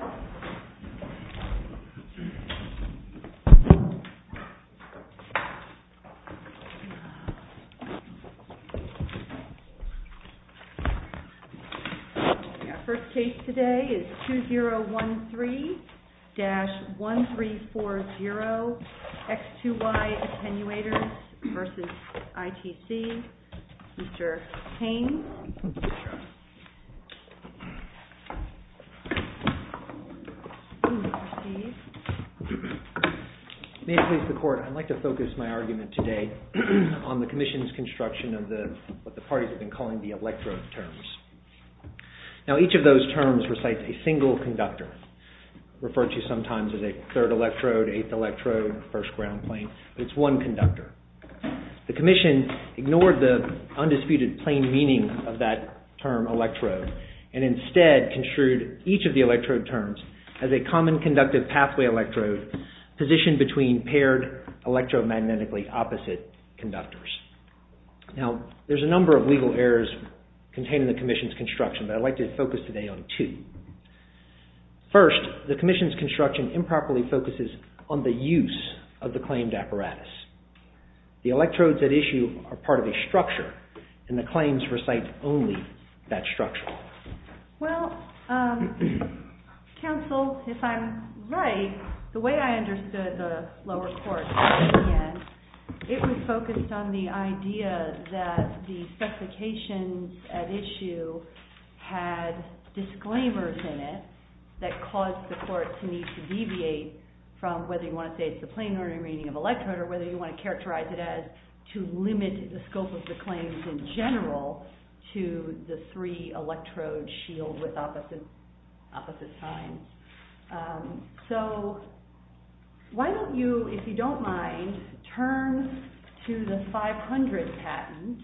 Our first case today is 2013-1340 X2Y Attenuators v. ITC. Mr. Payne? May it please the Court, I'd like to focus my argument today on the Commission's construction of what the parties have been calling the electrode terms. Now, each of those terms recites a single conductor, referred to sometimes as a third electrode, eighth electrode, first common conductor. The Commission ignored the undisputed plain meaning of that term electrode and instead construed each of the electrode terms as a common conductive pathway electrode positioned between paired electromagnetically opposite conductors. Now, there's a number of legal errors contained in the Commission's construction, but I'd like to focus today on two. First, the Commission's construction improperly focuses on the use of the claimed apparatus. The electrodes at issue are part of a structure and the claims recite only that structure. Well, counsel, if I'm right, the way I understood the lower court, it was focused on the idea that the specifications at issue had disclaimers in it that caused the court to need to deviate from whether you want to say it's the plain ordinary meaning of electrode or whether you want to characterize it as to limit the scope of the claims in general to the three electrode shield with opposite signs. So why don't you, if you don't mind, turn to the 500 patent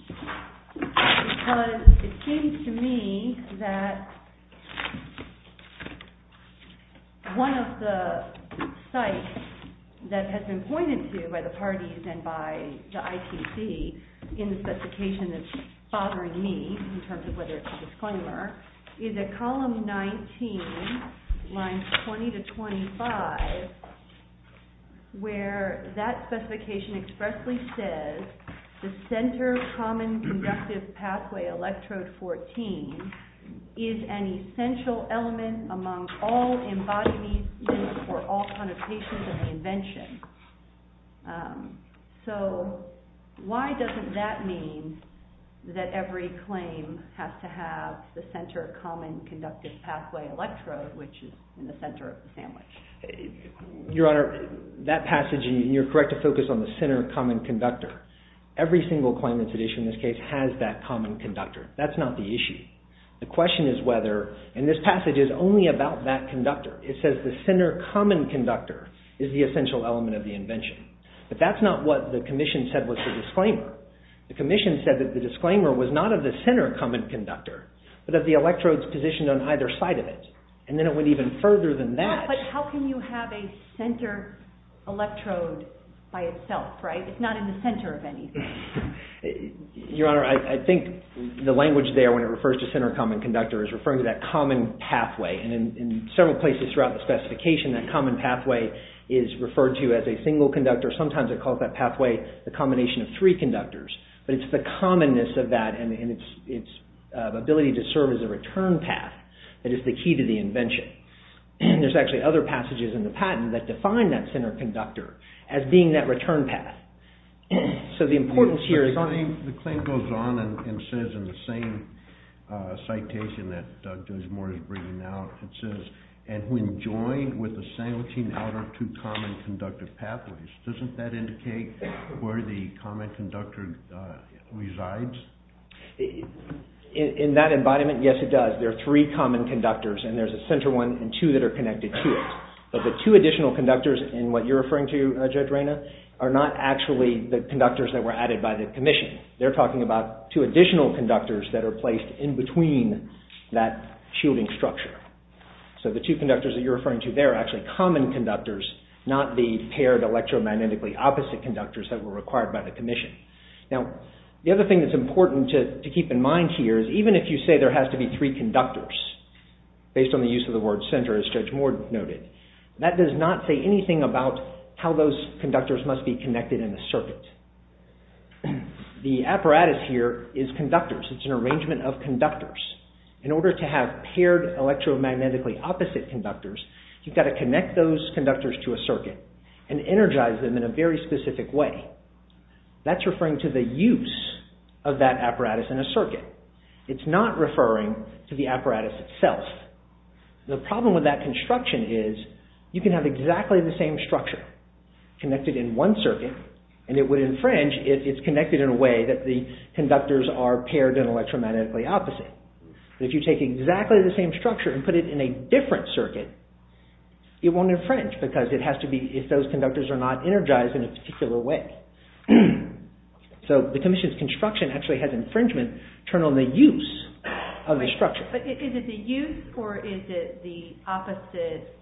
because it seems to me that one of the sites that has been pointed to by the parties and by the ITC in the specification that's bothering me in terms of the statute, is column 19, lines 20 to 25, where that specification expressly says the center common conductive pathway electrode 14 is an essential element among all embodiments for all connotations of the invention. So why doesn't that mean that every claim has to have the center common conductive pathway electrode, which is in the center of the sandwich? Your Honor, that passage, and you're correct to focus on the center common conductor. Every single claim that's at issue in this case has that common conductor. That's not the issue. The question is whether, and this passage is only about that conductor. It says the center common conductor is the essential element of the invention. But that's not what the commission said was the disclaimer. The commission said that the disclaimer was not of the center common conductor, but of the electrodes positioned on either side of it. And then it went even further than that. But how can you have a center electrode by itself, right? It's not in the center of anything. Your Honor, I think the language there when it refers to center common conductor is referring to that common pathway. And in several places throughout the specification, that common pathway is referred to as a single conductor. Sometimes it calls that pathway the combination of three conductors, but it's the commonness of that and its ability to serve as a return path that is the key to the invention. And there's actually other passages in the patent that define that center conductor as being that return path. So the importance here is... The claim goes on and says in the same citation that Doug Desmore is bringing out, it says, and when joined with the sandwiching outer two common conductive pathways, doesn't that indicate where the common conductor resides? In that embodiment, yes, it does. There are three common conductors and there's a center one and two that are connected to it. But the two additional conductors in what you're referring to, Judge Reyna, are not actually the conductors that were added by the commission. They're talking about two additional conductors that are placed in between that shielding structure. So the two conductors that you're referring to, they're actually common conductors, not the paired electromagnetically opposite conductors that were required by the commission. Now, the other thing that's important to keep in mind here is even if you say there has to be three conductors, based on the use of the word center, as Judge Moore noted, that does not say anything about how those conductors must be connected in the circuit. The apparatus here is conductors. It's an arrangement of conductors. In order to have paired electromagnetically opposite conductors, you've got to connect those conductors to a circuit and energize them in a very specific way. That's referring to the use of that apparatus in a circuit. It's not referring to the apparatus itself. The problem with that construction is you can have exactly the same structure connected in one circuit and it would infringe if it's connected in a way that the conductors are paired and electromagnetically opposite. If you take exactly the same structure and put it in a different circuit, it won't infringe because it has to be if those conductors are not energized in a particular way. So the commission's construction actually has infringement turned on the use of the structure. Is it the use or is it the opposite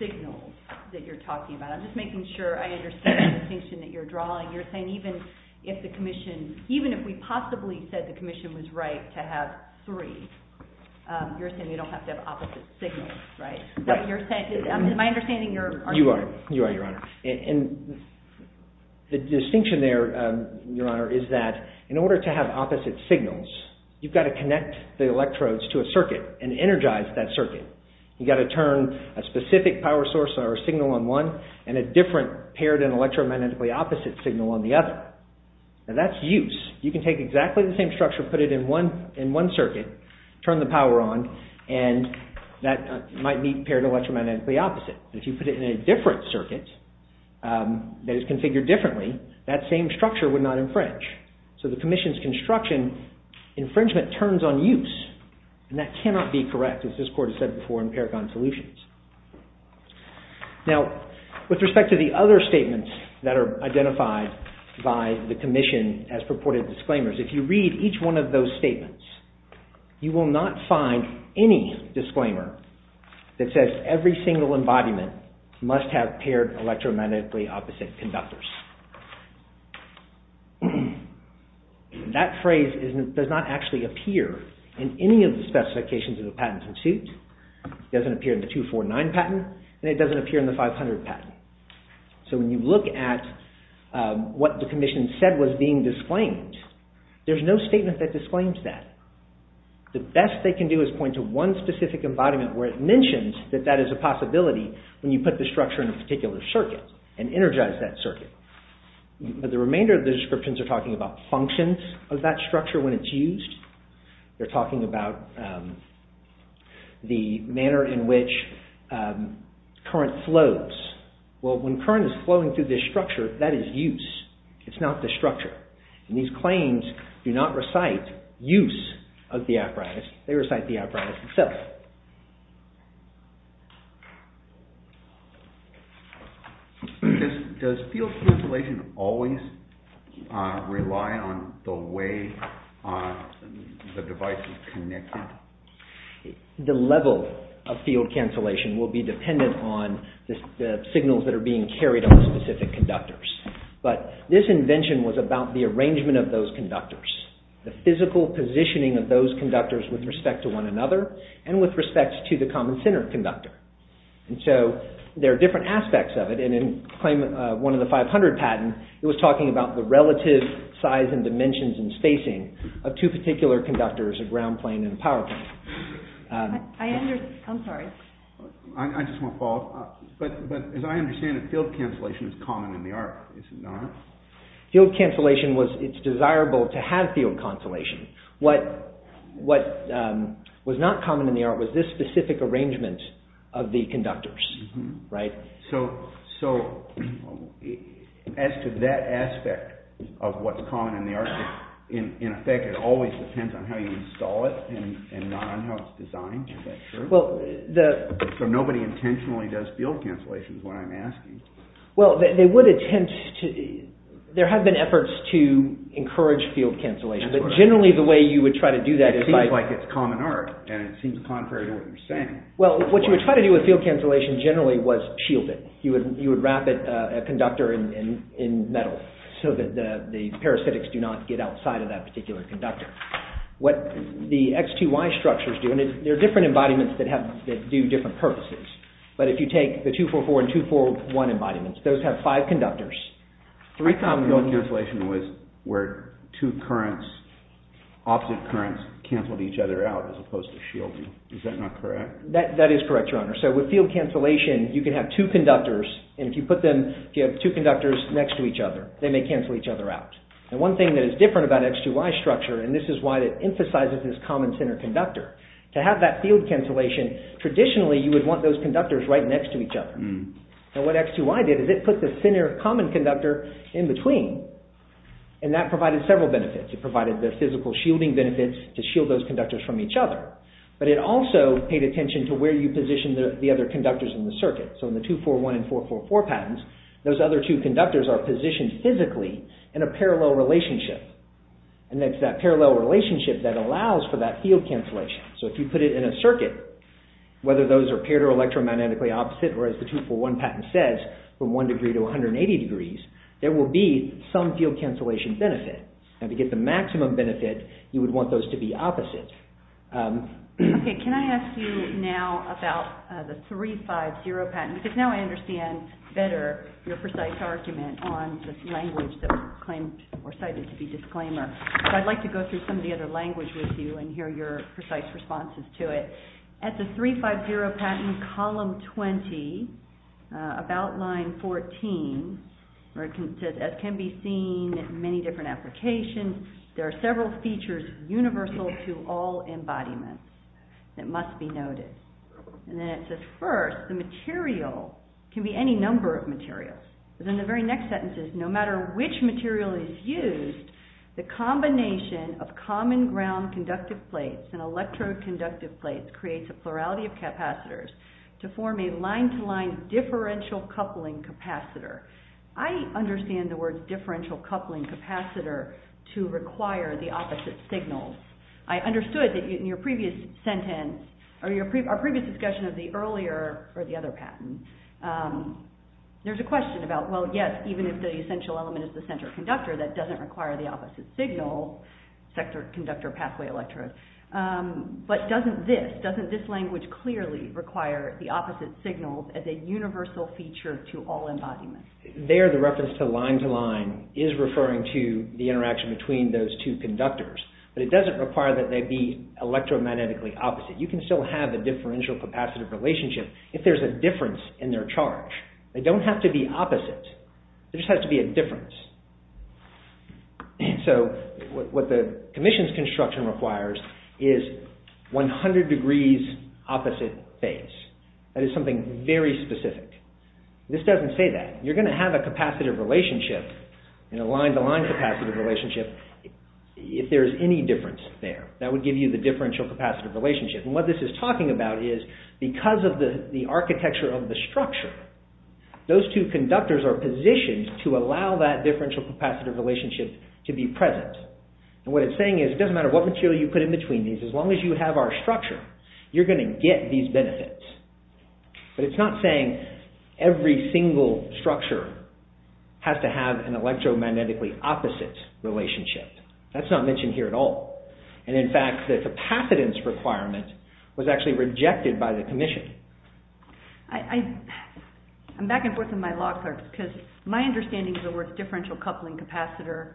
signal that you're talking about? I'm just making sure I understand the distinction that you're drawing. You're saying even if we possibly said the commission was right to have three, you're saying we don't have to have opposite signals, right? You are, Your Honor. The distinction there, Your Honor, is that in order to have opposite signals, you've got to connect the electrodes to a circuit and energize that circuit. You've got to turn a specific power source or signal on one and a different paired and electromagnetically opposite signal on the other. That's use. You can take exactly the same structure, put it in one circuit, turn the power on, and that might be paired electromagnetically opposite. If you put it in a different circuit that is configured differently, that same structure would not infringe. So the commission's construction infringement turns on use and that cannot be correct as this Court has said before in Paragon Solutions. Now, with respect to the other statements that are identified by the commission as purported disclaimers, if you read each one of those statements, you will not find any disclaimer that says every single embodiment must have paired electromagnetically opposite conductors. That phrase does not actually appear in any of the specifications of the patent suit. It doesn't appear in the 249 patent and it doesn't appear in the 500 patent. So when you look at what the commission said was being disclaimed, there's no statement that disclaims that. The best they can do is point to one specific embodiment where it and energize that circuit. But the remainder of the descriptions are talking about functions of that structure when it's used. They're talking about the manner in which current flows. Well, when current is flowing through this structure, that is use. It's not the structure. And these Does field cancellation always rely on the way the device is connected? The level of field cancellation will be dependent on the signals that are being carried on specific conductors. But this invention was about the arrangement of those conductors, the physical positioning of those conductors with respect to one another and with respect to the common conductor. And so there are different aspects of it. And in one of the 500 patents, it was talking about the relative size and dimensions and spacing of two particular conductors, a ground plane and a power plane. I'm sorry. I just want to follow up. But as I understand it, field cancellation is common in the art, is it not? Field cancellation, it's desirable to have field cancellation. What was not common in the art was this specific arrangement of the conductors. So as to that aspect of what's common in the art, in effect, it always depends on how you install it and not on how it's designed? Is that true? So nobody intentionally does field cancellations when I'm asking. Well, they would attempt to. There have been efforts to encourage field cancellation, but generally the way you would try to do that is by... It seems like it's common art and it seems contrary to what you're saying. Well, what you would try to do with field cancellation generally was shield it. You would wrap a conductor in metal so that the parasitics do not get outside of that particular conductor. What the X2Y structures do, and there are different embodiments that do different purposes, but if you take the 244 and 241 embodiments, those have five conductors. I thought field cancellation was where two currents, opposite currents, cancelled each other out as opposed to shielding. Is that not correct? That is correct, Your Honor. So with field cancellation, you can have two conductors, and if you put them, if you have two conductors next to each other, they may cancel each other out. And one thing that is different about X2Y structure, and this is why it emphasizes this common center conductor, to have that field cancellation, traditionally you would want those conductors right next to each other. And what X2Y did is it put the center common conductor in between, and that provided several benefits. It provided the physical shielding benefits to shield those conductors from each other. But it also paid attention to where you position the other conductors in the circuit. So in the 241 and 444 patterns, those other two conductors are positioned physically in a parallel relationship. And it's that parallel relationship that allows for that field cancellation. So if you put it in a circuit, whether those are paired or one pattern says from one degree to 180 degrees, there will be some field cancellation benefit. And to get the maximum benefit, you would want those to be opposite. Okay. Can I ask you now about the 350 patent? Because now I understand better your precise argument on the language that was claimed or cited to be disclaimer. So I'd like to go through some of the other language with you and hear your precise responses to it. At the 350 patent column 20, about line 14, where it says, as can be seen in many different applications, there are several features universal to all embodiments that must be noted. And then it says, first, the material can be any number of materials. But then the very next sentence is, no matter which material is used, the combination of common ground conductive plates and electrode creates a plurality of capacitors to form a line-to-line differential coupling capacitor. I understand the word differential coupling capacitor to require the opposite signals. I understood that in your previous sentence, or our previous discussion of the earlier or the other patent, there's a question about, well, yes, even if the essential element is the center conductor, that doesn't require the opposite signal sector conductor pathway electrode. But doesn't this, doesn't this language clearly require the opposite signals as a universal feature to all embodiments? There, the reference to line-to-line is referring to the interaction between those two conductors, but it doesn't require that they be electromagnetically opposite. You can still have a differential capacitive relationship if there's a difference in their charge. They don't have to be opposite. There just has to be a difference. And so what the commission's construction requires is 100 degrees opposite phase. That is something very specific. This doesn't say that. You're going to have a capacitive relationship in a line-to-line capacitive relationship if there's any difference there. That would give you the differential capacitive relationship. And what this is talking about is because of the architecture of the structure, those two conductors are positioned to allow that differential capacitive relationship to be present. And what it's saying is it doesn't matter what material you put in between these, as long as you have our structure, you're going to get these benefits. But it's not saying every single structure has to have an electromagnetically opposite relationship. That's not mentioned here at all. And in fact, the capacitance requirement was actually rejected by the commission. I'm back and forth with my law clerks because my understanding of the word differential coupling capacitor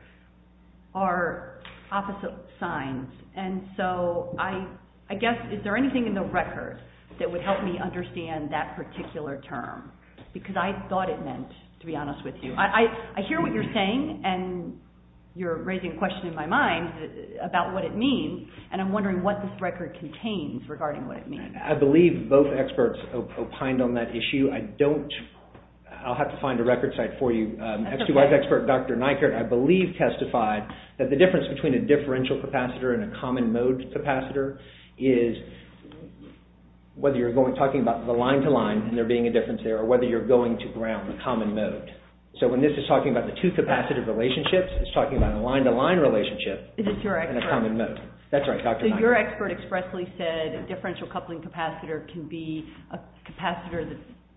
are opposite signs. And so I guess, is there anything in the record that would help me understand that particular term? Because I thought it meant, to be honest with you. I hear what you're saying, and you're raising a question in my mind about what it means, and I'm wondering what this opined on that issue. I don't... I'll have to find a record site for you. X2Y's expert, Dr. Neikert, I believe testified that the difference between a differential capacitor and a common mode capacitor is whether you're talking about the line-to-line, and there being a difference there, or whether you're going to ground, the common mode. So when this is talking about the two capacitive relationships, it's talking about a line-to-line relationship in a common mode. That's right, Dr. Neikert. Your expert expressly said a differential coupling capacitor can be a capacitor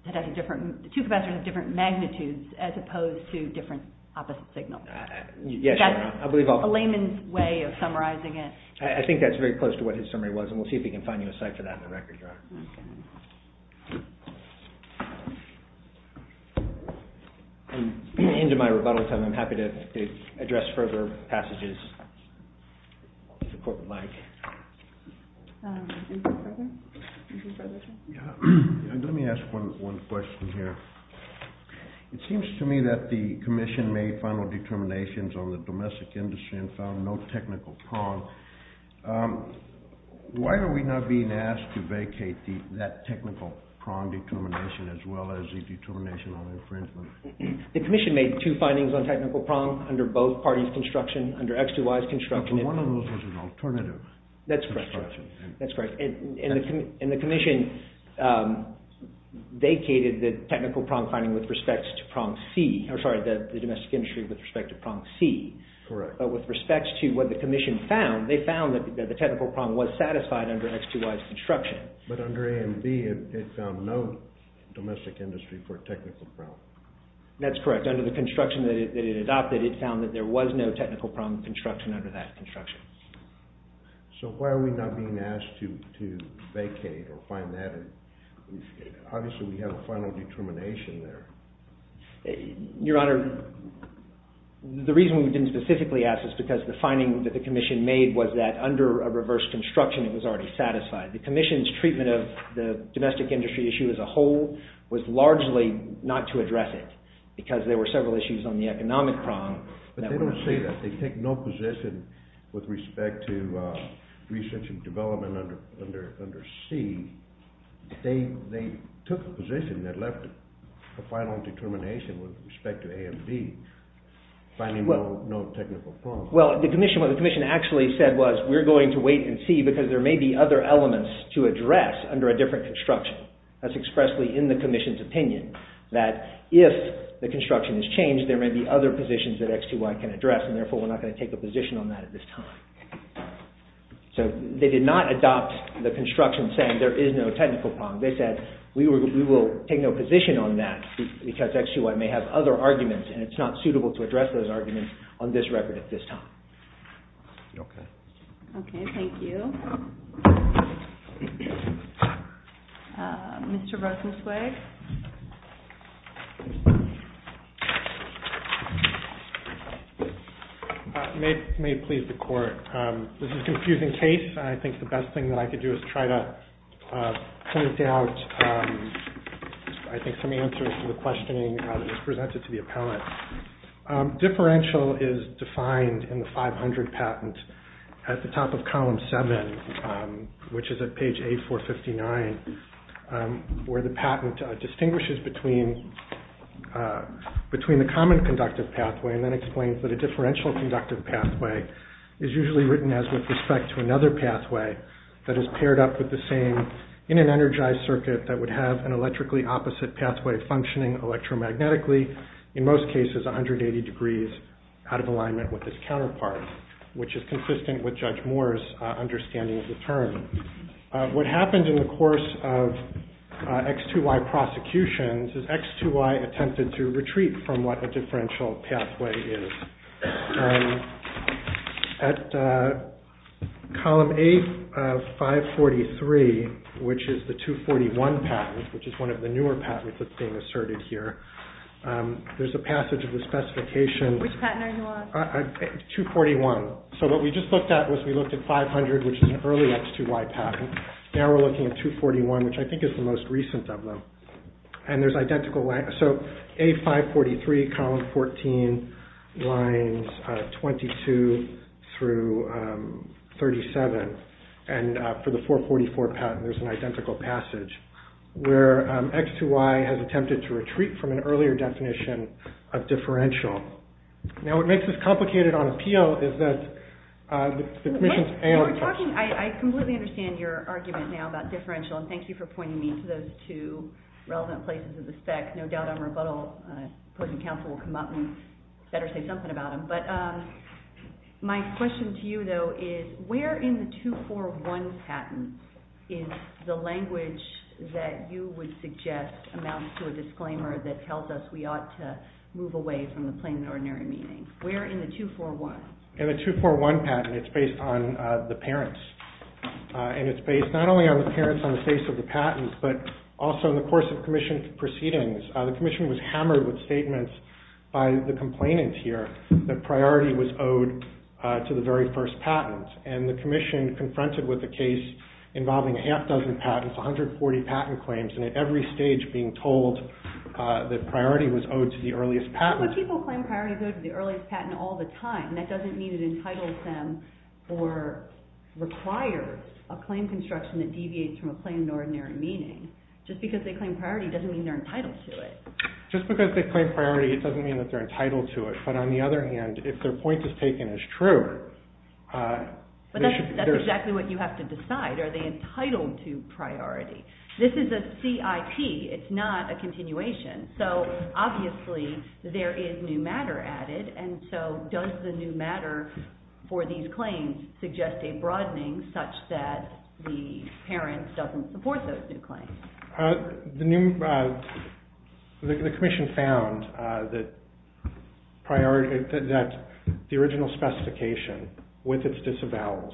that has a different... two capacitors of different magnitudes as opposed to different opposite signals. That's a layman's way of summarizing it. I think that's very close to what his summary was, and we'll see if we can find you a site for that in the record, Your Honor. I'm into my rebuttal time. I'm happy to address further passages. Let me ask one question here. It seems to me that the Commission made final determinations on the domestic industry and found no technical prong. Why are we not being asked to vacate that technical prong determination as well as the determination on infringement? The Commission made two findings on technical prong under both parties' construction, under X2Y's construction... But one of those was an alternative. That's correct. And the Commission vacated the technical prong finding with respect to prong C, or sorry, the domestic industry with respect to prong C. Correct. But with respect to what the Commission found, they found that the technical prong was satisfied under X2Y's construction. But under A and B, it found no domestic industry for a technical prong. That's correct. Under the construction that it adopted, it found that there was no technical prong construction under that construction. So why are we not being asked to vacate or find that? Obviously, we have a final determination there. Your Honor, the reason we didn't specifically ask is because the finding that the Commission made was that under a reverse construction, it was already satisfied. The Commission's treatment of the domestic industry issue as a whole was largely not to address it because there were several issues on the economic prong that were... They take no position with respect to research and development under C. They took a position that left a final determination with respect to A and B, finding no technical prong. Well, what the Commission actually said was, we're going to wait and see because there may be other elements to address under a different construction. That's expressly in the Commission's opinion that if the construction is changed, there will be no technical prong, and therefore, we're not going to take a position on that at this time. So they did not adopt the construction saying there is no technical prong. They said, we will take no position on that because actually we may have other arguments and it's not suitable to address those arguments on this record at this time. Okay. Okay, thank you. Mr. Rosenzweig. May it please the court. This is a confusing case. I think the best thing that I could do is try to point out, I think, some answers to the questioning that was presented to the appellant. Differential is defined in the 500 patent at the top of column seven, which is at page A459, where the patent distinguishes between the common conductive pathway and then explains that a differential conductive pathway is usually written as with respect to another pathway that is paired up with the same in an energized circuit that would have an electrically opposite pathway functioning electromagnetically, in most cases, 180 degrees out of alignment with its counterpart, which is consistent with Judge Moore's understanding of the term. What happened in the course of X2Y prosecutions is X2Y attempted to retreat from what a and at column A543, which is the 241 patent, which is one of the newer patents that's being asserted here. There's a passage of the specification. Which patent are you on? 241. So what we just looked at was we looked at 500, which is an early X2Y patent. Now we're looking at 241, which I think is the most recent of them. And there's identical lines. So A543, column 14, lines 22 through 37. And for the 444 patent, there's an identical passage where X2Y has attempted to retreat from an earlier definition of differential. Now, what makes this complicated on appeal is that the commission's analytics. I completely understand your argument now about differential. And thank you for pointing me to those two relevant places of the spec. No doubt on rebuttal, opposing counsel will come up and better say something about them. But my question to you, though, is where in the 241 patent is the language that you would suggest amounts to a disclaimer that tells us we ought to move away from the plain and ordinary meaning? Where in the 241? In the 241 patent, it's based on the parents. And it's based not only on the parents on the face of the patents, but also in the course of commission proceedings, the commission was hammered with statements by the complainant here that priority was owed to the very first patent. And the commission confronted with a case involving a half dozen patents, 140 patent claims, and at every stage being told that priority was owed to the earliest patent. But people claim priority is owed to the earliest patent all the time. And that doesn't mean it entitles them or requires a claim construction that deviates from a plain and ordinary meaning. Just because they claim priority doesn't mean they're entitled to it. Just because they claim priority, it doesn't mean that they're entitled to it. But on the other hand, if their point is taken as true, they should be... But that's exactly what you have to decide. Are they entitled to priority? This is a CIP. It's not a continuation. So obviously, there is new matter added. And so does the new matter for these claims suggest a broadening such that the parents doesn't support those new claims? The commission found that the original specification with its disavowals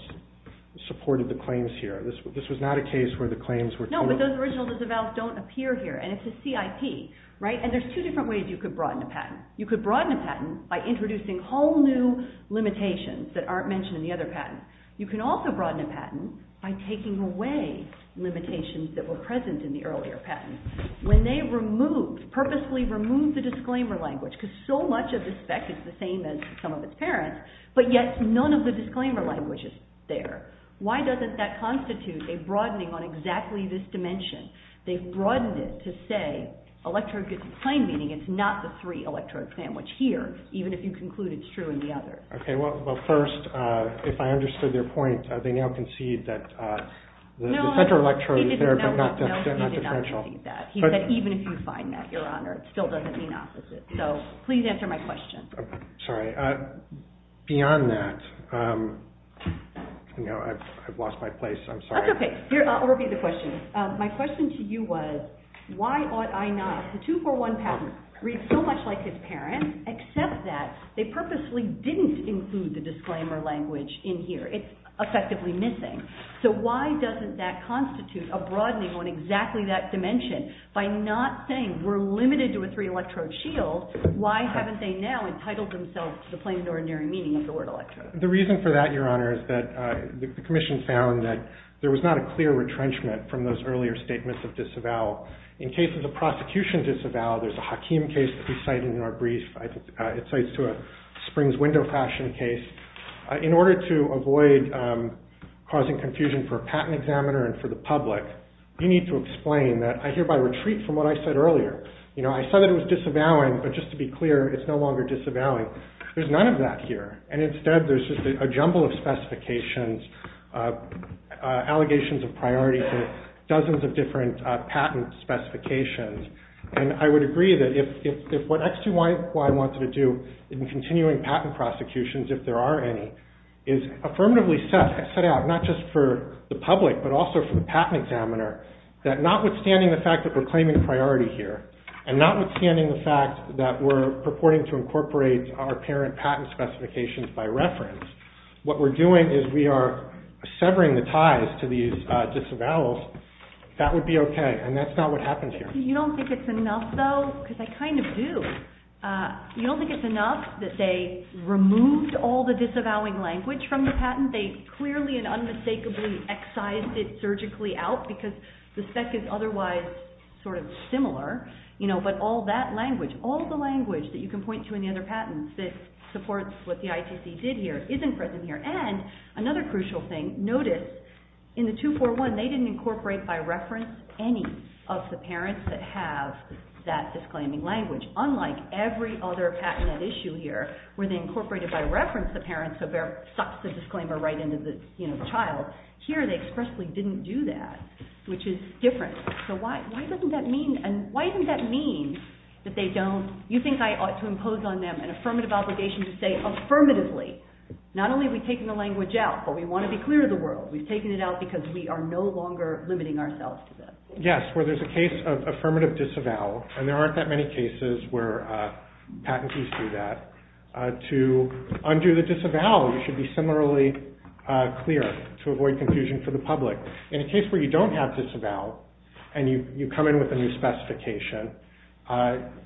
supported the claims here. This was not a case where the claims were... No, but those original disavowals don't appear here. And it's a CIP, right? And there's two different ways you could broaden a patent. You could broaden a patent by introducing whole new limitations that aren't mentioned in the other patent. You can also broaden a patent by taking away limitations that were present in the earlier patent. When they removed, purposely removed the disclaimer language, because so much of the spec is the same as some of its parents, but yet none of the disclaimer language is there. Why doesn't that constitute a broadening on exactly this dimension? They've broadened it to say, electrode gets a claim, meaning it's not the three electrode sandwich here, even if you conclude it's true in the other. Okay, well, first, if I understood your point, they now concede that the center electrode is there, but not differential. No, he did not concede that. He said, even if you find that, Your Honor, it still doesn't mean opposite. So please answer my question. Sorry. Beyond that, I've lost my place. I'm sorry. That's okay. Here, I'll repeat the question. My question to you was, why ought I not? The 241 patent reads so much like his parents, except that they purposely didn't include the disclaimer language in here. It's effectively missing. So why doesn't that constitute a broadening on exactly that dimension? By not saying we're limited to a three electrode shield, why haven't they now entitled themselves to the plain and ordinary meaning of the word electrode? The reason for that, Your Honor, is that the commission found that there was not a clear retrenchment from those earlier statements of disavowal. In cases of prosecution disavowal, there's a Hakim case that we cited in our brief. I think it cites to a springs window fashion case. In order to avoid causing confusion for a patent examiner and for the public, you need to explain that I hereby retreat from what I said earlier. You know, I said that it was disavowing, but just to be clear, it's no longer disavowing. There's none of that here. And instead, there's just a jumble of specifications, allegations of priority to dozens of different patent specifications. And I would agree that if what X2Y wanted to do in continuing patent prosecutions, if there are any, is affirmatively set out, not just for the public, but also for the patent examiner, that notwithstanding the fact that we're claiming priority here, and notwithstanding the fact that we're purporting to incorporate our parent patent specifications by reference, what we're doing is we are severing the ties to these disavowals. That would be okay. And that's not what happens here. You don't think it's enough, though? Because I kind of do. You don't think it's enough that they removed all the disavowing language from the patent? They clearly and unmistakably excised it surgically out because the spec is otherwise sort of similar. But all that language, all the language that you can point to in the other patents that supports what the ITC did here isn't present here. And another crucial thing, notice in the 241, they didn't incorporate by reference any of the parents that have that disclaiming language, unlike every other patent at issue here where they incorporated by reference the parents, so there sucks the disclaimer right into the child. Here, they expressly didn't do that, which is different. So why doesn't that mean? And why doesn't that mean that they don't, you think I ought to impose on them an affirmative obligation to say affirmatively, not only are we taking the language out, but we want to be clear to the world. We've taken it out because we are no longer limiting ourselves to this. Yes, where there's a case of affirmative disavowal, and there aren't that many cases where patentees do that. To undo the disavowal, you should be similarly clear to avoid confusion for the public. In a case where you don't have disavowal, and you come in with a new specification,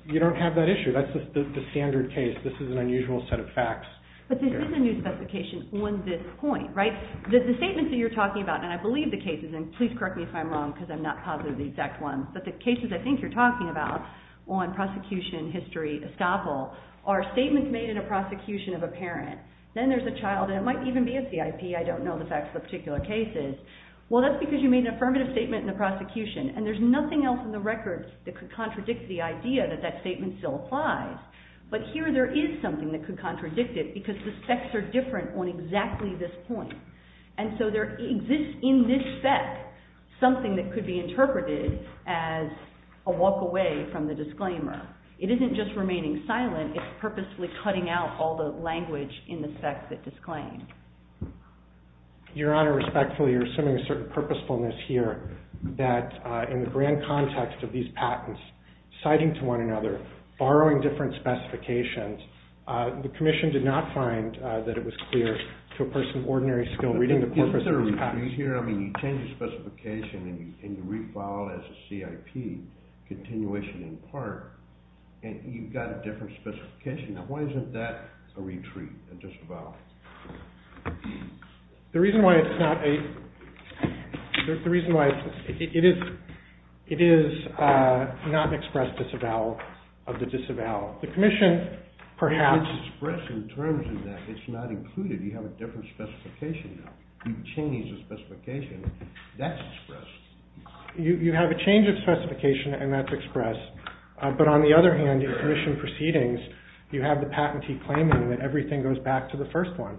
you don't have that issue. That's the standard case. This is an unusual set of facts. But this is a new specification on this point, right? The statements that you're talking about, and I believe the cases, and please correct me if I'm wrong because I'm not positive of the exact ones, but the cases I think you're talking about on prosecution, history, estoppel, are statements made in a prosecution of a parent. Then there's a child, and it might even be a CIP. I don't know the facts of the particular cases. Well, that's because you made an affirmative statement in the prosecution, and there's nothing else in the records that could contradict the idea that that statement still applies. But here there is something that could contradict it because the specs are different on exactly this point. And so there exists in this spec something that could be interpreted as a walk away from the disclaimer. It isn't just remaining silent. It's purposefully cutting out all the language in the spec that disclaimed. Your Honor, respectfully, you're assuming a certain purposefulness here that in the grand context of these patents, citing to one another, borrowing different specifications, the commission did not find that it was clear to a person of ordinary skill reading the corpus of these patents. Is there a retreat here? I mean, you change the specification, and you read Fowler as a CIP continuation in part, and you've got a different specification. Now, why isn't that a retreat at just about? The reason why it's not a, the reason why it is not expressed disavowal of the disavowal. The commission perhaps. It's expressed in terms of that. It's not included. You have a different specification now. You've changed the specification. That's expressed. You have a change of specification, and that's expressed. But on the other hand, in commission proceedings, you have the patentee claiming that everything goes back to the first one,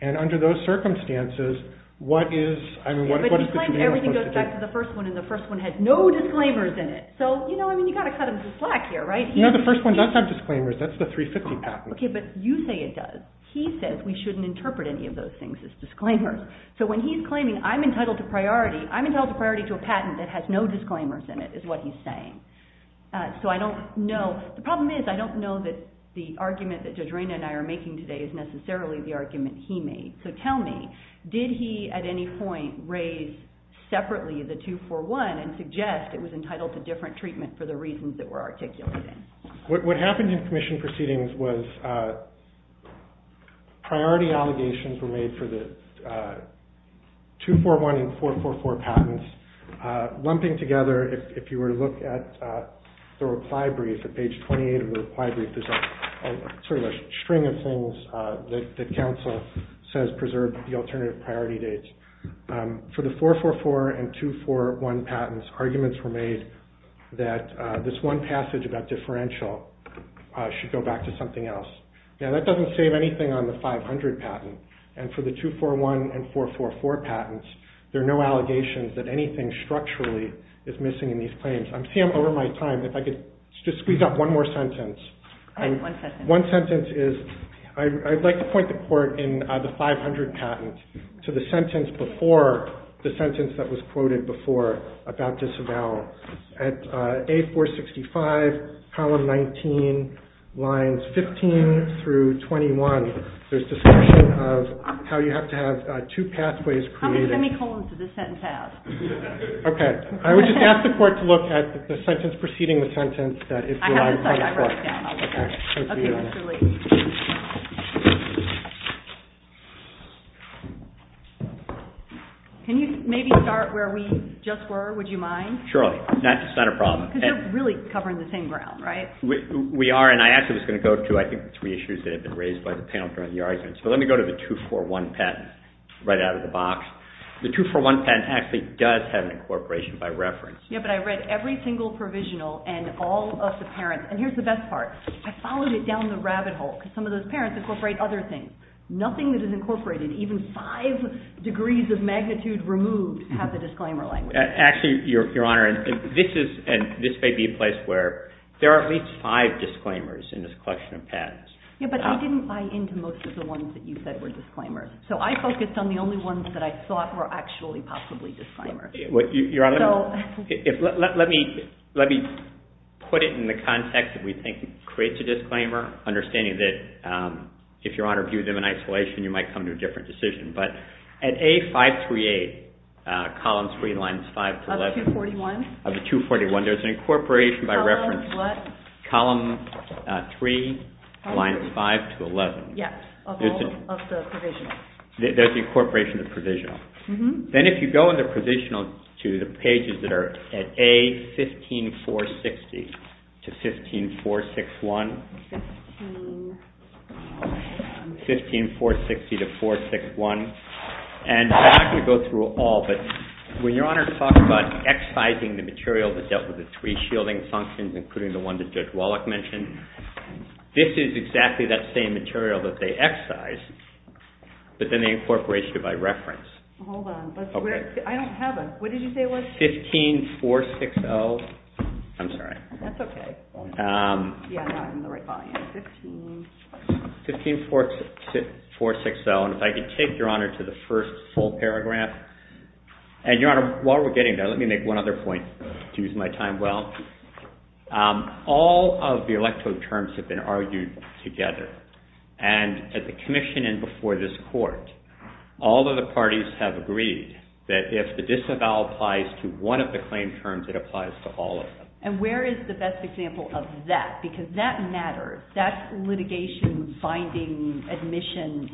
and under those circumstances, what is, I mean, what is the commission supposed to do? But he claims everything goes back to the first one, and the first one has no disclaimers in it. So, you know, I mean, you've got to cut him some slack here, right? You know, the first one does have disclaimers. That's the 350 patent. Okay, but you say it does. He says we shouldn't interpret any of those things as disclaimers. So when he's claiming I'm entitled to priority, I'm entitled to priority to a patent that has no disclaimers in it, is what he's saying. So I don't know. The problem is I don't know that the argument that Judge Raina and I are making today is necessarily the argument he made. So tell me, did he at any point raise separately the 241 and suggest it was entitled to different treatment for the reasons that we're articulating? What happened in commission proceedings was priority allegations were made for the 241 and 444 patents. Lumping together, if you were to look at the reply brief at page 28 of the reply brief, there's sort of a string of things that counsel says preserve the alternative priority dates. For the 444 and 241 patents, arguments were made that this one passage about differential should go back to something else. Now, that doesn't save anything on the 500 patent. And for the 241 and 444 patents, there are no allegations that anything structurally is missing in these claims. I'm over my time. If I could just squeeze up one more sentence. One sentence is I'd like to point the court in the 500 patent to the sentence before the sentence that was quoted before about disavowal. At A465, column 19, lines 15 through 21, there's discussion of how you have to have two pathways created. How many semicolons does this sentence have? Okay. I would just ask the court to look at the sentence preceding the sentence. Can you maybe start where we just were? Would you mind? Surely. That's not a problem. Because you're really covering the same ground, right? We are. And I actually was going to go to, I think, three issues that have been raised by the panel during the argument. So let me go to the 241 patent right out of the box. The 241 patent actually does have an incorporation by reference. Yeah, but I read every single provisional and all of the parents. And here's the best part. I followed it down the rabbit hole because some of those parents incorporate other things. Nothing that is incorporated, even five degrees of magnitude removed, have the disclaimer language. Actually, Your Honor, this may be a place where there are at least five disclaimers in this collection of patents. Yeah, but I didn't buy into most of the ones that you said were disclaimers. So I focused on the only ones that I thought were actually possibly disclaimers. Let me put it in the context that we think creates a disclaimer, understanding that if Your Honor viewed them in isolation, you might come to a different decision. But at A538, column 3, lines 5 to 11, of the 241, there's an incorporation by reference column 3, lines 5 to 11. Yeah, of the provisional. There's the incorporation of the provisional. Then if you go in the provisional to the pages that are at A15460 to 15461, and I'm not going to go through all, but when Your Honor talks about excising the material that dealt with the three shielding functions, including the one that Judge Wallach mentioned, this is exactly that same material that they excise, but then they incorporate it by reference. Hold on, I don't have a, what did you say it was? 15460, I'm sorry. That's okay. Yeah, I'm not in the right volume. 15460, and if I could take Your Honor to the first full paragraph, and Your Honor, while we're getting there, let me make one other point to use my time well. All of the elective terms have been argued together, and at the commission and before this court, all of the parties have agreed that if the disavow applies to one of the claim terms, it applies to all of them. And where is the best example of that? Because that matters. That's litigation finding admission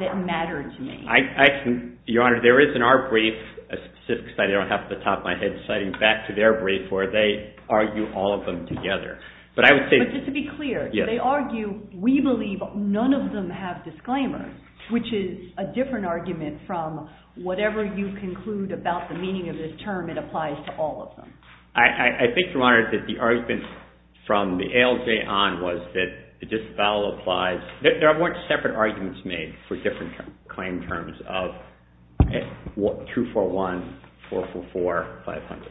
that mattered to me. I can, Your Honor, there is in our brief, a specific study, I don't have it at the top of my head, citing back to their brief where they argue all of them together. But I would say- But just to be clear, they argue, we believe none of them have disclaimers, which is a different argument from whatever you conclude about the meaning of this term, it applies to all of them. I think, Your Honor, that the argument from the ALJ on was that the disavow applies, there weren't separate arguments made for different claim terms of 241, 444, 500.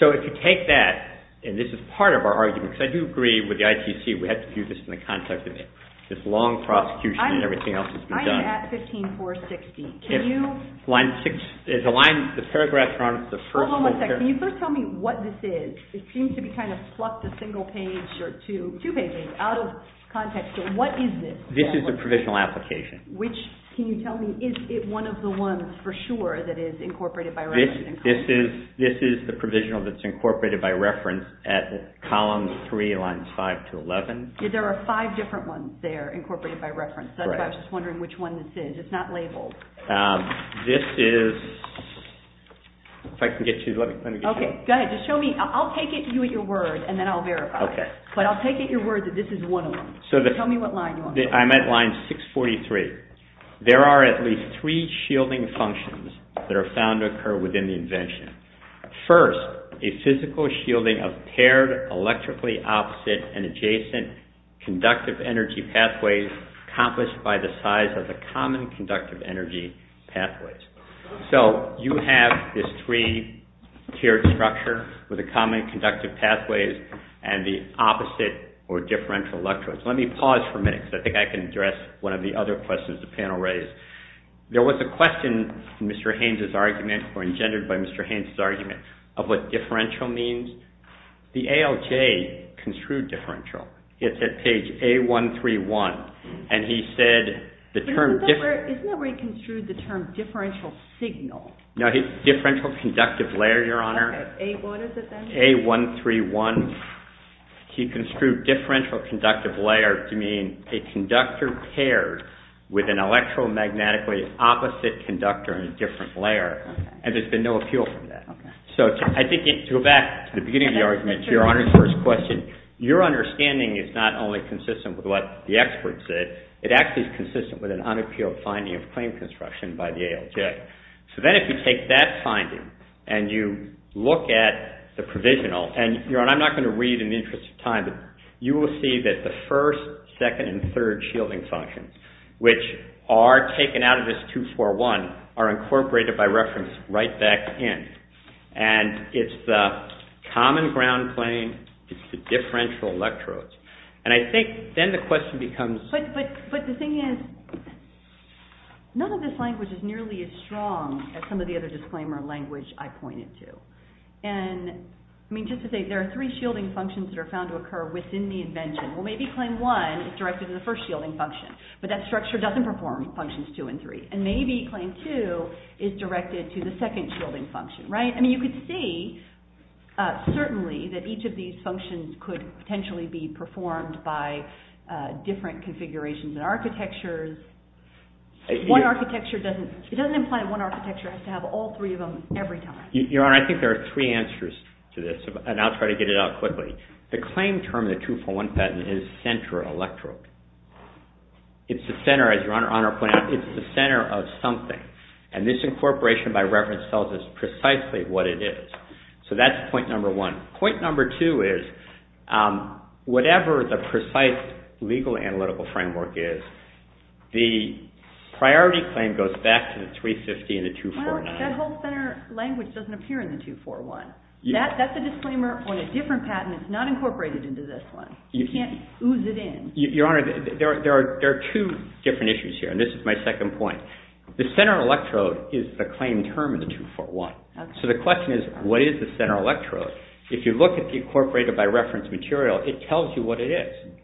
So if you take that, and this is part of our argument, because I do agree with the ITC, we have to do this in the context of this long prosecution and everything else that's been done. I'm at 15460. Can you- The paragraph, Your Honor, the first full paragraph- Can you first tell me what this is? It seems to be kind of plucked a single page or two, two pages, out of context. So what is this? This is a provisional application. Which, can you tell me, is it one of the ones for sure that is incorporated by reference? This is the provisional that's incorporated by reference at columns 3, lines 5 to 11. There are five different ones there incorporated by reference. That's why I was just wondering which one this is. It's not labeled. This is, if I can get you, let me get you- Okay, go ahead. Just show me. I'll take you at your word, and then I'll verify. Okay. But I'll take at your word that this is one of them. So the- Tell me what line you're on. I'm at line 643. There are at least three shielding functions that are found to occur within the invention. First, a physical shielding of paired, electrically opposite, and adjacent conductive energy pathways accomplished by the size of the common conductive energy pathways. So you have this three-tiered structure with the common conductive pathways and the opposite or differential electrodes. Let me pause for a minute because I think I can address one of the other questions the panel raised. There was a question in Mr. Haynes' argument, or engendered by Mr. Haynes' argument, of what differential means. The ALJ construed differential. It's at page A131, and he said the term- Isn't that where he construed the term differential signal? No, differential conductive layer, Your Honor. Okay, A what is it then? A131. He construed differential conductive layer to mean a conductor paired with an electromagnetically opposite conductor in a different layer, and there's been no appeal for that. Okay. So I think to go back to the beginning of the argument to Your Honor's first question, your understanding is not only consistent with what the expert said, it actually is consistent with an unappealed finding of claim construction by the ALJ. So then if you take that finding and you look at the provisional, and Your Honor, I'm not going to read in the interest of time, but you will see that the first, second, and third shielding functions, which are taken out of this 241, are incorporated by reference right back in. And it's the common ground plane. It's the differential electrodes. And I think then the question becomes- But the thing is, none of this language is nearly as strong as some of the other disclaimer language I pointed to. And I mean, just to say there are three shielding functions that are found to occur within the invention. Well, maybe claim one is directed to the first shielding function, but that structure doesn't perform functions two and three. And maybe claim two is directed to the second shielding function, right? I mean, you could see, certainly, that each of these functions could potentially be performed by different configurations and architectures. One architecture doesn't- It doesn't imply one architecture has to have all three of them every time. Your Honor, I think there are three answers to this, and I'll try to get it out quickly. The claim term in the 241 patent is center electrode. It's the center, as Your Honor pointed out. It's the center of something. And this incorporation by reference tells us precisely what it is. So that's point number one. Point number two is, whatever the precise legal analytical framework is, the priority claim goes back to the 350 and the 241. Well, that whole center language doesn't appear in the 241. That's a disclaimer on a different patent. It's not incorporated into this one. You can't ooze it in. Your Honor, there are two different issues here, and this is my second point. The center electrode is the claim term in the 241. So the question is, what is the center electrode? If you look at the incorporated by reference material, it tells you what it is.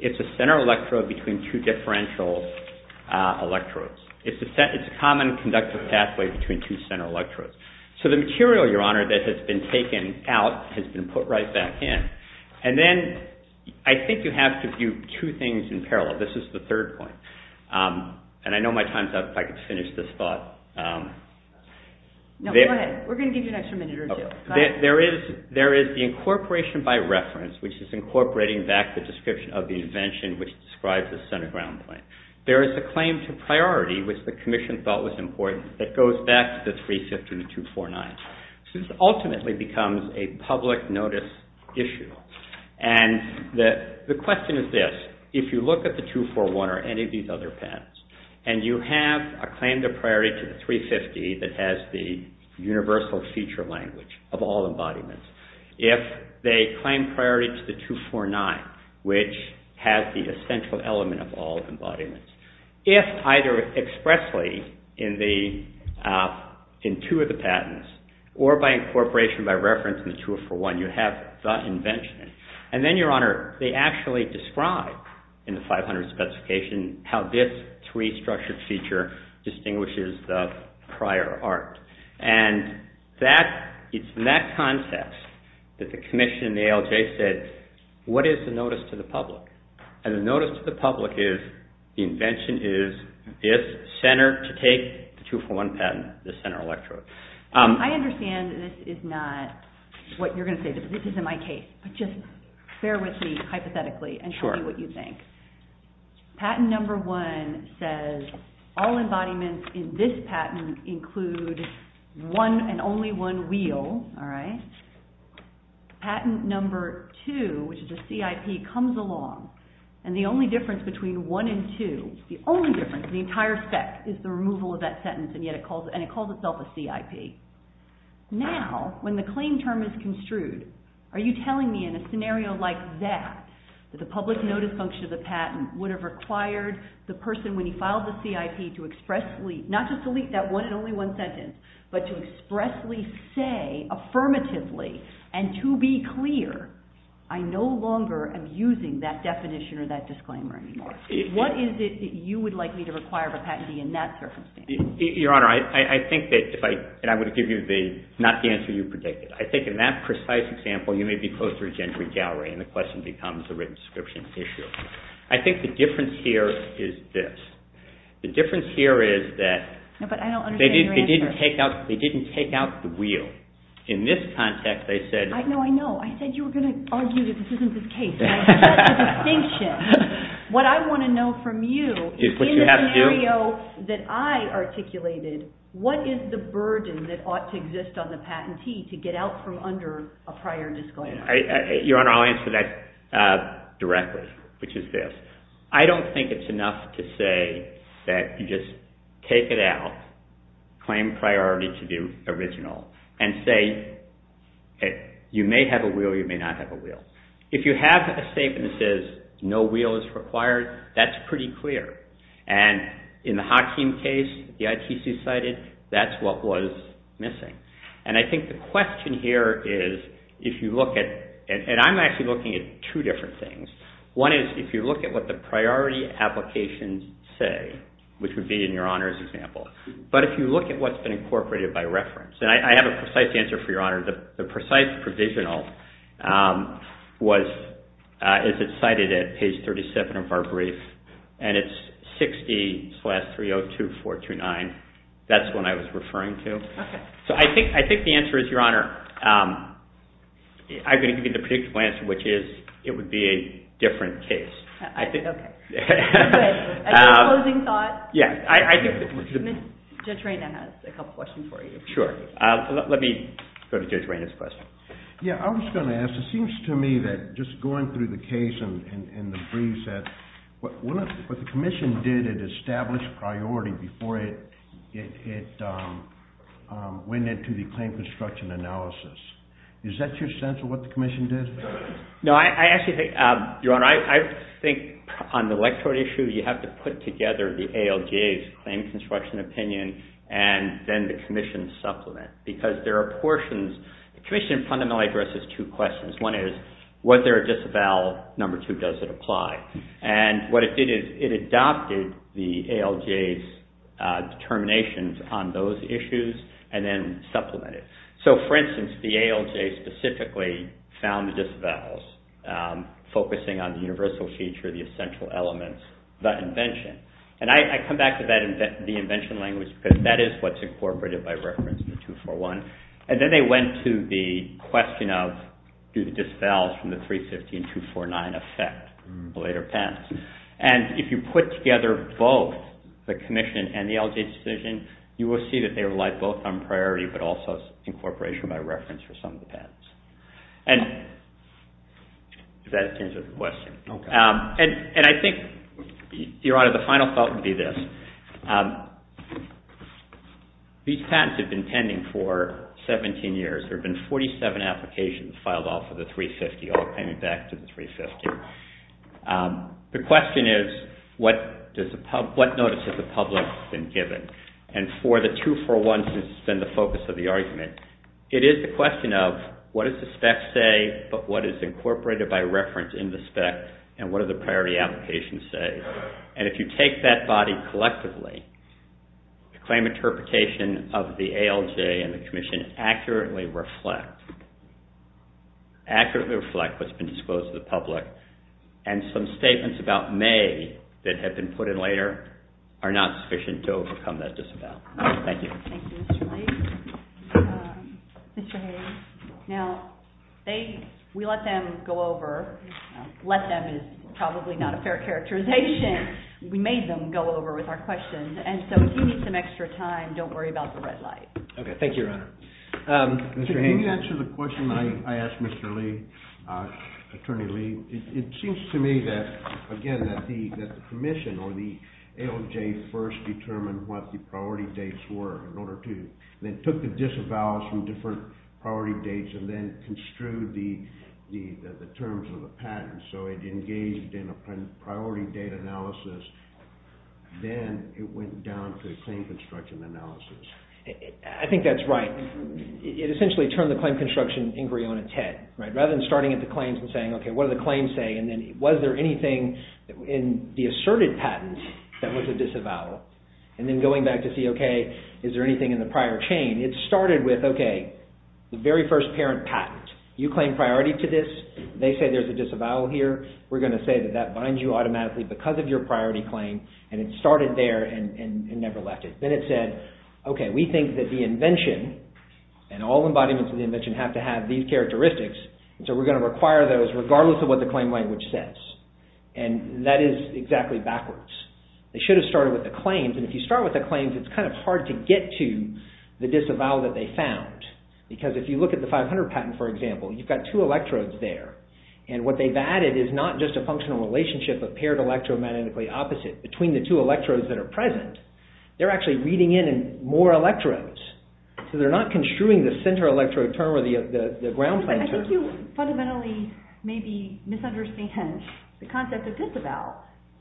It's a center electrode between two differential electrodes. It's a common conductive pathway between two center electrodes. So the material, Your Honor, that has been taken out has been put right back in. And then I think you have to view two things in parallel. This is the third point. And I know my time's up. If I could finish this thought. No, go ahead. We're going to give you an extra minute or two. There is the incorporation by reference, which is incorporating back the description of the invention, which describes the center ground point. There is a claim to priority, which the Commission thought was important, that goes back to the 350 and the 249. So this ultimately becomes a public notice issue. And the question is this. If you look at the 241 or any of these other patents, and you have a claim to priority to the 350 that has the universal feature language of all embodiments, if they claim priority to the 249, which has the essential element of all embodiments, if either expressly in two of the patents or by incorporation by reference in the 241, you have the invention. And then, Your Honor, they actually describe in the 500 specification how this three-structured feature distinguishes the prior art. And it's in that context that the Commission and the ALJ said, what is the notice to the public? And the notice to the public is the invention is this center to take the 241 patent, the center electrode. I understand that this is not what you're going to say. This isn't my case. But just bear with me hypothetically and tell me what you think. Patent number one says all embodiments in this patent include one and only one wheel. All right. Patent number two, which is a CIP, comes along. And the only difference between one and two, the only difference, the entire spec, is the removal of that sentence. And yet it calls itself a CIP. Now, when the claim term is construed, are you telling me in a scenario like that that the public notice function of the patent would have required the person, when he filed the CIP, to expressly not just delete that one and only one sentence, but to expressly say affirmatively, and to be clear, I no longer am using that definition or that disclaimer anymore? What is it that you would like me to require of a patentee in that circumstance? Your Honor, I think that if I, and I would give you the, not the answer you predicted. I think in that precise example, you may be closer to Gentry Gallery, and the question becomes the written description issue. I think the difference here is this. The difference here is that they didn't take out, they didn't take out the wheel. In this context, they said. I know, I know. I said you were going to argue that this isn't the case. And I have that distinction. What I want to know from you, in the scenario that I articulated, what is the burden that ought to exist on the patentee to get out from under a prior disclaimer? Your Honor, I'll answer that directly, which is this. I don't think it's enough to say that you just take it out, claim priority to the original, and say you may have a wheel, you may not have a wheel. If you have a statement that says no wheel is required, that's pretty clear. And in the Hakim case, the ITC cited, that's what was missing. And I think the question here is if you look at, and I'm actually looking at two different things. One is if you look at what the priority applications say, which would be in your Honor's example. But if you look at what's been incorporated by reference. I have a precise answer for your Honor. The precise provisional is cited at page 37 of our brief. And it's 60 slash 302429. That's what I was referring to. So I think the answer is, your Honor, I'm going to give you the predictive answer, which is it would be a different case. Okay. Any closing thoughts? Yeah. Judge Reyna has a couple questions for you. Sure. Let me go to Judge Reyna's question. Yeah. I was going to ask, it seems to me that just going through the case and the briefs that what the commission did, it established priority before it went into the claim construction analysis. Is that your sense of what the commission did? No, I actually think, your Honor, I think on the electoral issue, you have to put together the ALJ's claim construction opinion and then the commission's supplement. Because there are portions, the commission fundamentally addresses two questions. One is, was there a disavowal? Number two, does it apply? And what it did is it adopted the ALJ's determinations on those issues and then supplemented. So for instance, the ALJ specifically found the disavowals, focusing on the universal feature, the essential elements, the invention. And I come back to that, the invention language, because that is what's incorporated by reference to 241. And then they went to the question of, do the disavowals from the 350 and 249 affect the later patents? And if you put together both the commission and the ALJ's decision, you will see that they relied both on priority but also incorporation by reference for some of the patents. And does that answer the question? Okay. And I think, Your Honor, the final thought would be this. These patents have been pending for 17 years. There have been 47 applications filed off of the 350, all coming back to the 350. The question is, what notice has the public been given? And for the 241, since it's been the focus of the argument, it is the question of, what does the spec say, but what is incorporated by reference in the spec, and what do the priority applications say? And if you take that body collectively, the claim interpretation of the ALJ and the commission accurately reflect what's been disclosed to the public. And some statements about May that have been put in later are not sufficient to overcome that disavowal. Thank you. Thank you, Mr. Light. Mr. Hayes. Now, we let them go over. Let them is probably not a fair characterization. We made them go over with our questions. And so if you need some extra time, don't worry about the red light. Okay. Thank you, Your Honor. Mr. Hayes. Can you answer the question I asked Mr. Lee, Attorney Lee? It seems to me that, again, that the commission or the ALJ first determined what the priority dates and then construed the terms of the patent. So it engaged in a priority data analysis. Then it went down to a claim construction analysis. I think that's right. It essentially turned the claim construction inquiry on its head, right? Rather than starting at the claims and saying, okay, what do the claims say? And then was there anything in the asserted patent that was a disavowal? And then going back to see, okay, is there anything in the prior chain? It started with, okay, the very first parent patent. You claim priority to this. They say there's a disavowal here. We're going to say that that binds you automatically because of your priority claim. And it started there and never left it. Then it said, okay, we think that the invention and all embodiments of the invention have to have these characteristics. And so we're going to require those regardless of what the claim language says. And that is exactly backwards. They should have started with the claims. And if you start with the claims, it's kind of hard to get to the disavowal that they found. Because if you look at the 500 patent, for example, you've got two electrodes there. And what they've added is not just a functional relationship of paired electro magnetically opposite between the two electrodes that are present. They're actually reading in more electrodes. So they're not construing the center electrode term or the ground plan term. I think you fundamentally maybe misunderstand the concept of disavowal.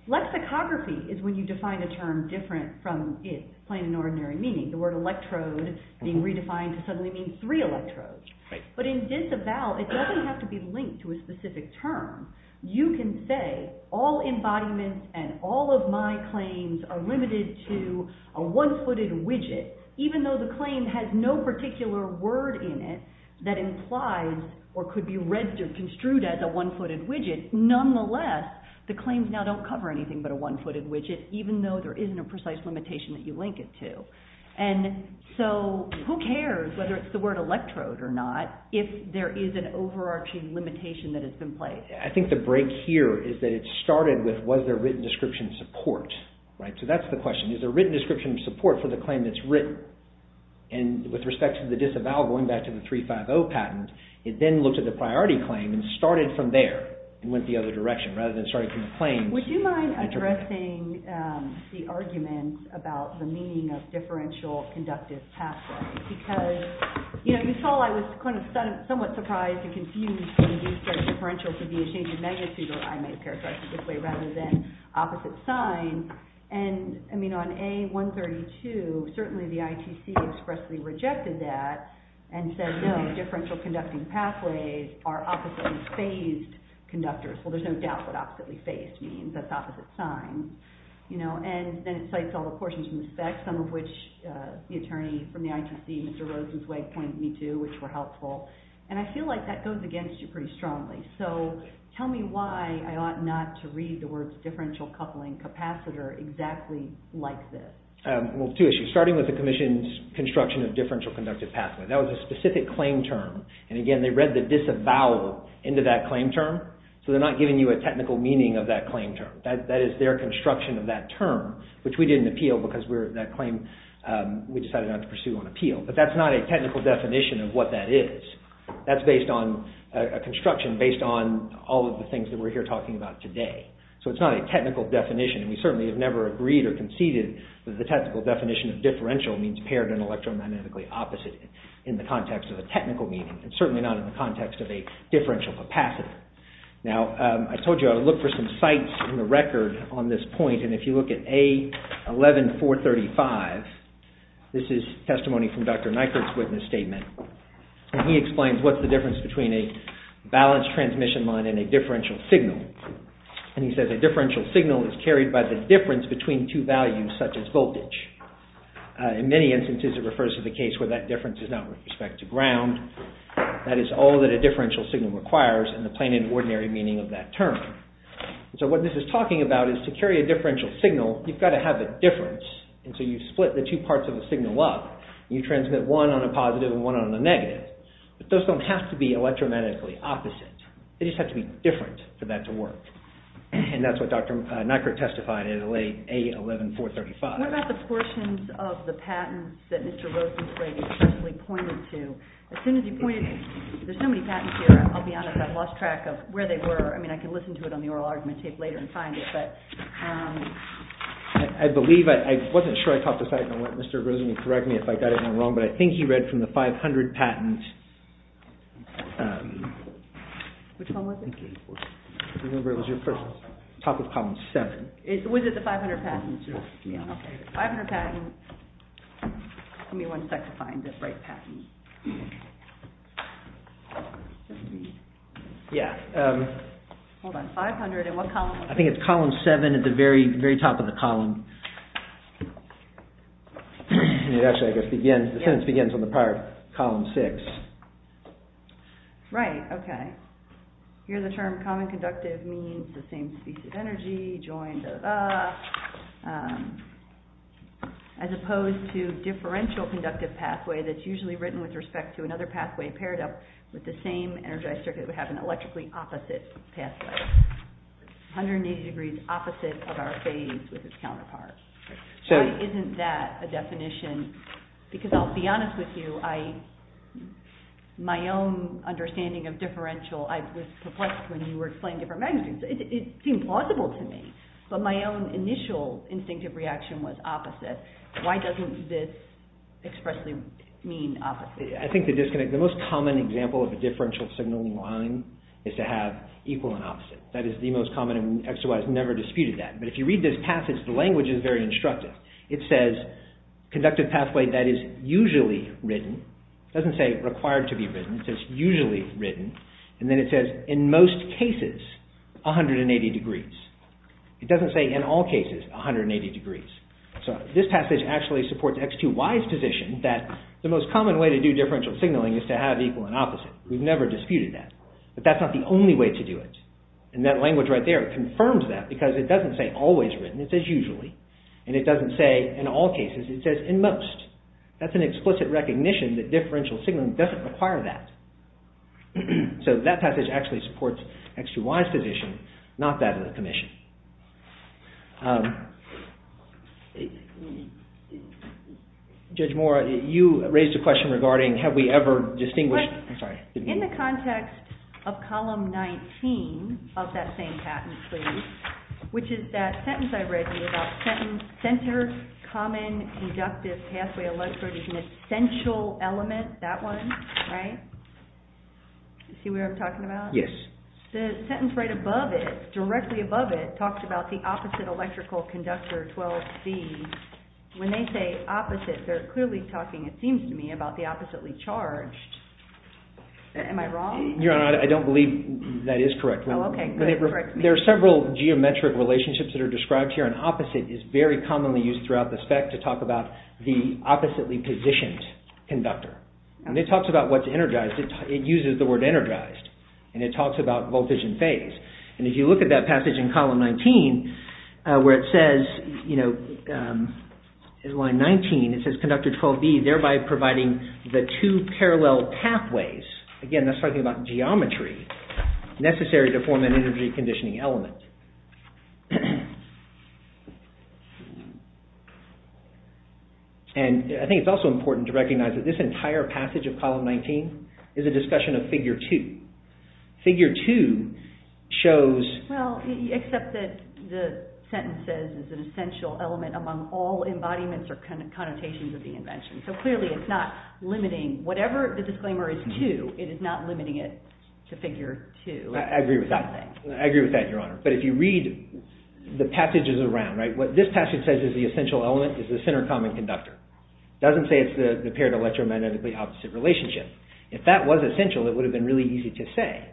Lexicography is when you define a term different from its plain and ordinary meaning. The word electrode being redefined to suddenly mean three electrodes. But in disavowal, it doesn't have to be linked to a specific term. You can say all embodiments and all of my claims are limited to a one-footed widget, even though the claim has no particular word in it that implies or could be read or construed as a one-footed widget. Nonetheless, the claims now don't cover anything but a one-footed widget, even though there isn't a precise limitation that you link it to. And so who cares whether it's the word electrode or not, if there is an overarching limitation that has been placed? I think the break here is that it started with was there written description support, right? So that's the question. Is there written description of support for the claim that's written? And with respect to the disavowal, going back to the 350 patent, it then looked at the priority claim and started from there. It went the other direction, rather than starting from the claims. Would you mind addressing the argument about the meaning of differential conductive pathways? Because you saw I was somewhat surprised and confused when you said differential could be a change in magnitude, or I may paraphrase it this way, rather than opposite sign. And I mean, on A132, certainly the ITC expressly rejected that and said, differential conducting pathways are oppositely phased conductors. Well, there's no doubt what oppositely phased means. That's opposite sign. And then it cites all the portions in the specs, some of which the attorney from the ITC, Mr. Rosenzweig, pointed me to, which were helpful. And I feel like that goes against you pretty strongly. So tell me why I ought not to read the words differential coupling capacitor exactly like this? Well, two issues. Starting with the commission's construction of differential conductive pathway. That was a specific claim term. And again, they read the disavowal into that claim term. So they're not giving you a technical meaning of that claim term. That is their construction of that term, which we didn't appeal because that claim, we decided not to pursue on appeal. But that's not a technical definition of what that is. That's based on a construction based on all of the things that we're here talking about today. So it's not a technical definition. And we certainly have never agreed or conceded that the technical definition of differential means paired and electrodynamically opposite. In the context of a technical meaning. And certainly not in the context of a differential capacitor. Now, I told you I would look for some sites in the record on this point. And if you look at A11435, this is testimony from Dr. Nykerk's witness statement. And he explains what's the difference between a balanced transmission line and a differential signal. And he says a differential signal is carried by the difference between two values such as voltage. In many instances, it refers to the case where that difference is not with respect to ground. That is all that a differential signal requires in the plain and ordinary meaning of that term. So what this is talking about is to carry a differential signal, you've got to have a difference. And so you split the two parts of the signal up. You transmit one on a positive and one on a negative. But those don't have to be electromatically opposite. They just have to be different for that to work. And that's what Dr. Nykerk testified in A11435. What about the portions of the patents that Mr. Rosen played and pointed to? As soon as he pointed, there's so many patents here. I'll be honest, I've lost track of where they were. I mean, I can listen to it on the oral argument tape later and find it. But I believe, I wasn't sure I caught the fact. And Mr. Rosen will correct me if I got anything wrong. But I think he read from the 500 patent. Which one was it? I remember it was your first. Top of column seven. Was it the 500 patents? 500 patents. Give me one sec to find the right patent. Yeah. Hold on. 500 and what column? I think it's column seven at the very, very top of the column. It actually, I guess, begins, the sentence begins on the part of column six. Right. Okay. Here's a term. Common conductive means the same species of energy joined. As opposed to differential conductive pathway, that's usually written with respect to another pathway paired up with the same energized circuit, we have an electrically opposite pathway, 180 degrees opposite of our phase with its counterpart. So why isn't that a definition? Because I'll be honest with you, I, my own understanding of differential, I was perplexed when you were explaining different magnitudes. It seemed plausible to me. But my own initial instinctive reaction was opposite. Why doesn't this expressly mean opposite? I think the disconnect, the most common example of a differential signaling line is to have equal and opposite. That is the most common and XOI has never disputed that. But if you read this passage, the language is very instructive. It says conductive pathway that is usually written. It doesn't say required to be written. It says usually written. And then it says in most cases, 180 degrees. It doesn't say in all cases, 180 degrees. So this passage actually supports XOI's position that the most common way to do differential signaling is to have equal and opposite. We've never disputed that. But that's not the only way to do it. And that language right there confirms that because it doesn't say always written, it says usually. And it doesn't say in all cases, it says in most. That's an explicit recognition that differential signaling doesn't require that. So that passage actually supports XOI's position, not that of the Commission. Judge Moore, you raised a question regarding have we ever distinguished... In the context of column 19 of that same patent, please, which is that sentence I read to you about center, common, conductive, pathway, electrode is an essential element. That one, right? You see what I'm talking about? Yes. The sentence right above it, directly above it, talks about the opposite electrical conductor 12C. When they say opposite, they're clearly talking, it seems to me, about the oppositely charged. Am I wrong? Your Honor, I don't believe that is correct. Oh, okay. But there are several geometric relationships that are described here. An opposite is very commonly used throughout the spec to talk about the oppositely positioned conductor. And it talks about what's energized. It uses the word energized. And it talks about voltage and phase. And if you look at that passage in column 19, where it says, in line 19, it says conductor 12B, thereby providing the two parallel pathways. Again, that's talking about geometry necessary to form an energy conditioning element. And I think it's also important to recognize that this entire passage of column 19 is a discussion of figure two. Figure two shows... Well, except that the sentence says it's an essential element among all embodiments or connotations of the invention. So clearly, it's not limiting. Whatever the disclaimer is to, it is not limiting it to figure two. But it's not limiting it to figure two. If you read the passages around, what this passage says is the essential element is the center common conductor. It doesn't say it's the paired electromagnetically opposite relationship. If that was essential, it would have been really easy to say.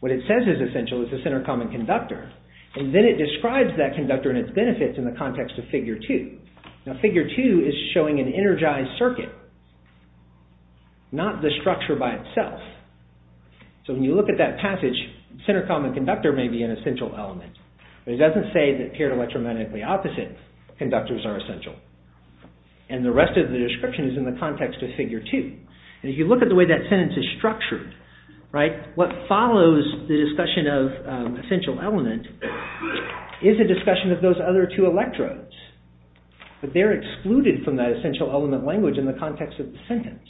What it says is essential is the center common conductor. And then it describes that conductor and its benefits in the context of figure two. Now, figure two is showing an energized circuit, not the structure by itself. So when you look at that passage, center common conductor may be an essential element. But it doesn't say that paired electromagnetically opposite conductors are essential. And the rest of the description is in the context of figure two. And if you look at the way that sentence is structured, what follows the discussion of essential element is a discussion of those other two electrodes. But they're excluded from that essential element language in the context of the sentence.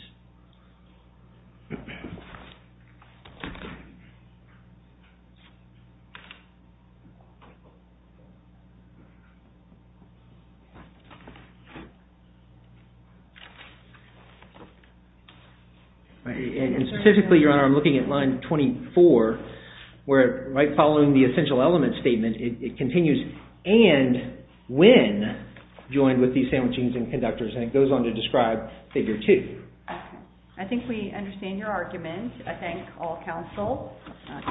And specifically, Your Honor, I'm looking at line 24, where right following the essential element statement, it continues and when joined with these sandwichings and conductors. And it goes on to describe figure two. I think we understand your argument. I thank all counsel.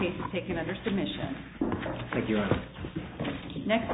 Case is taken under submission. Thank you, Your Honor. Next.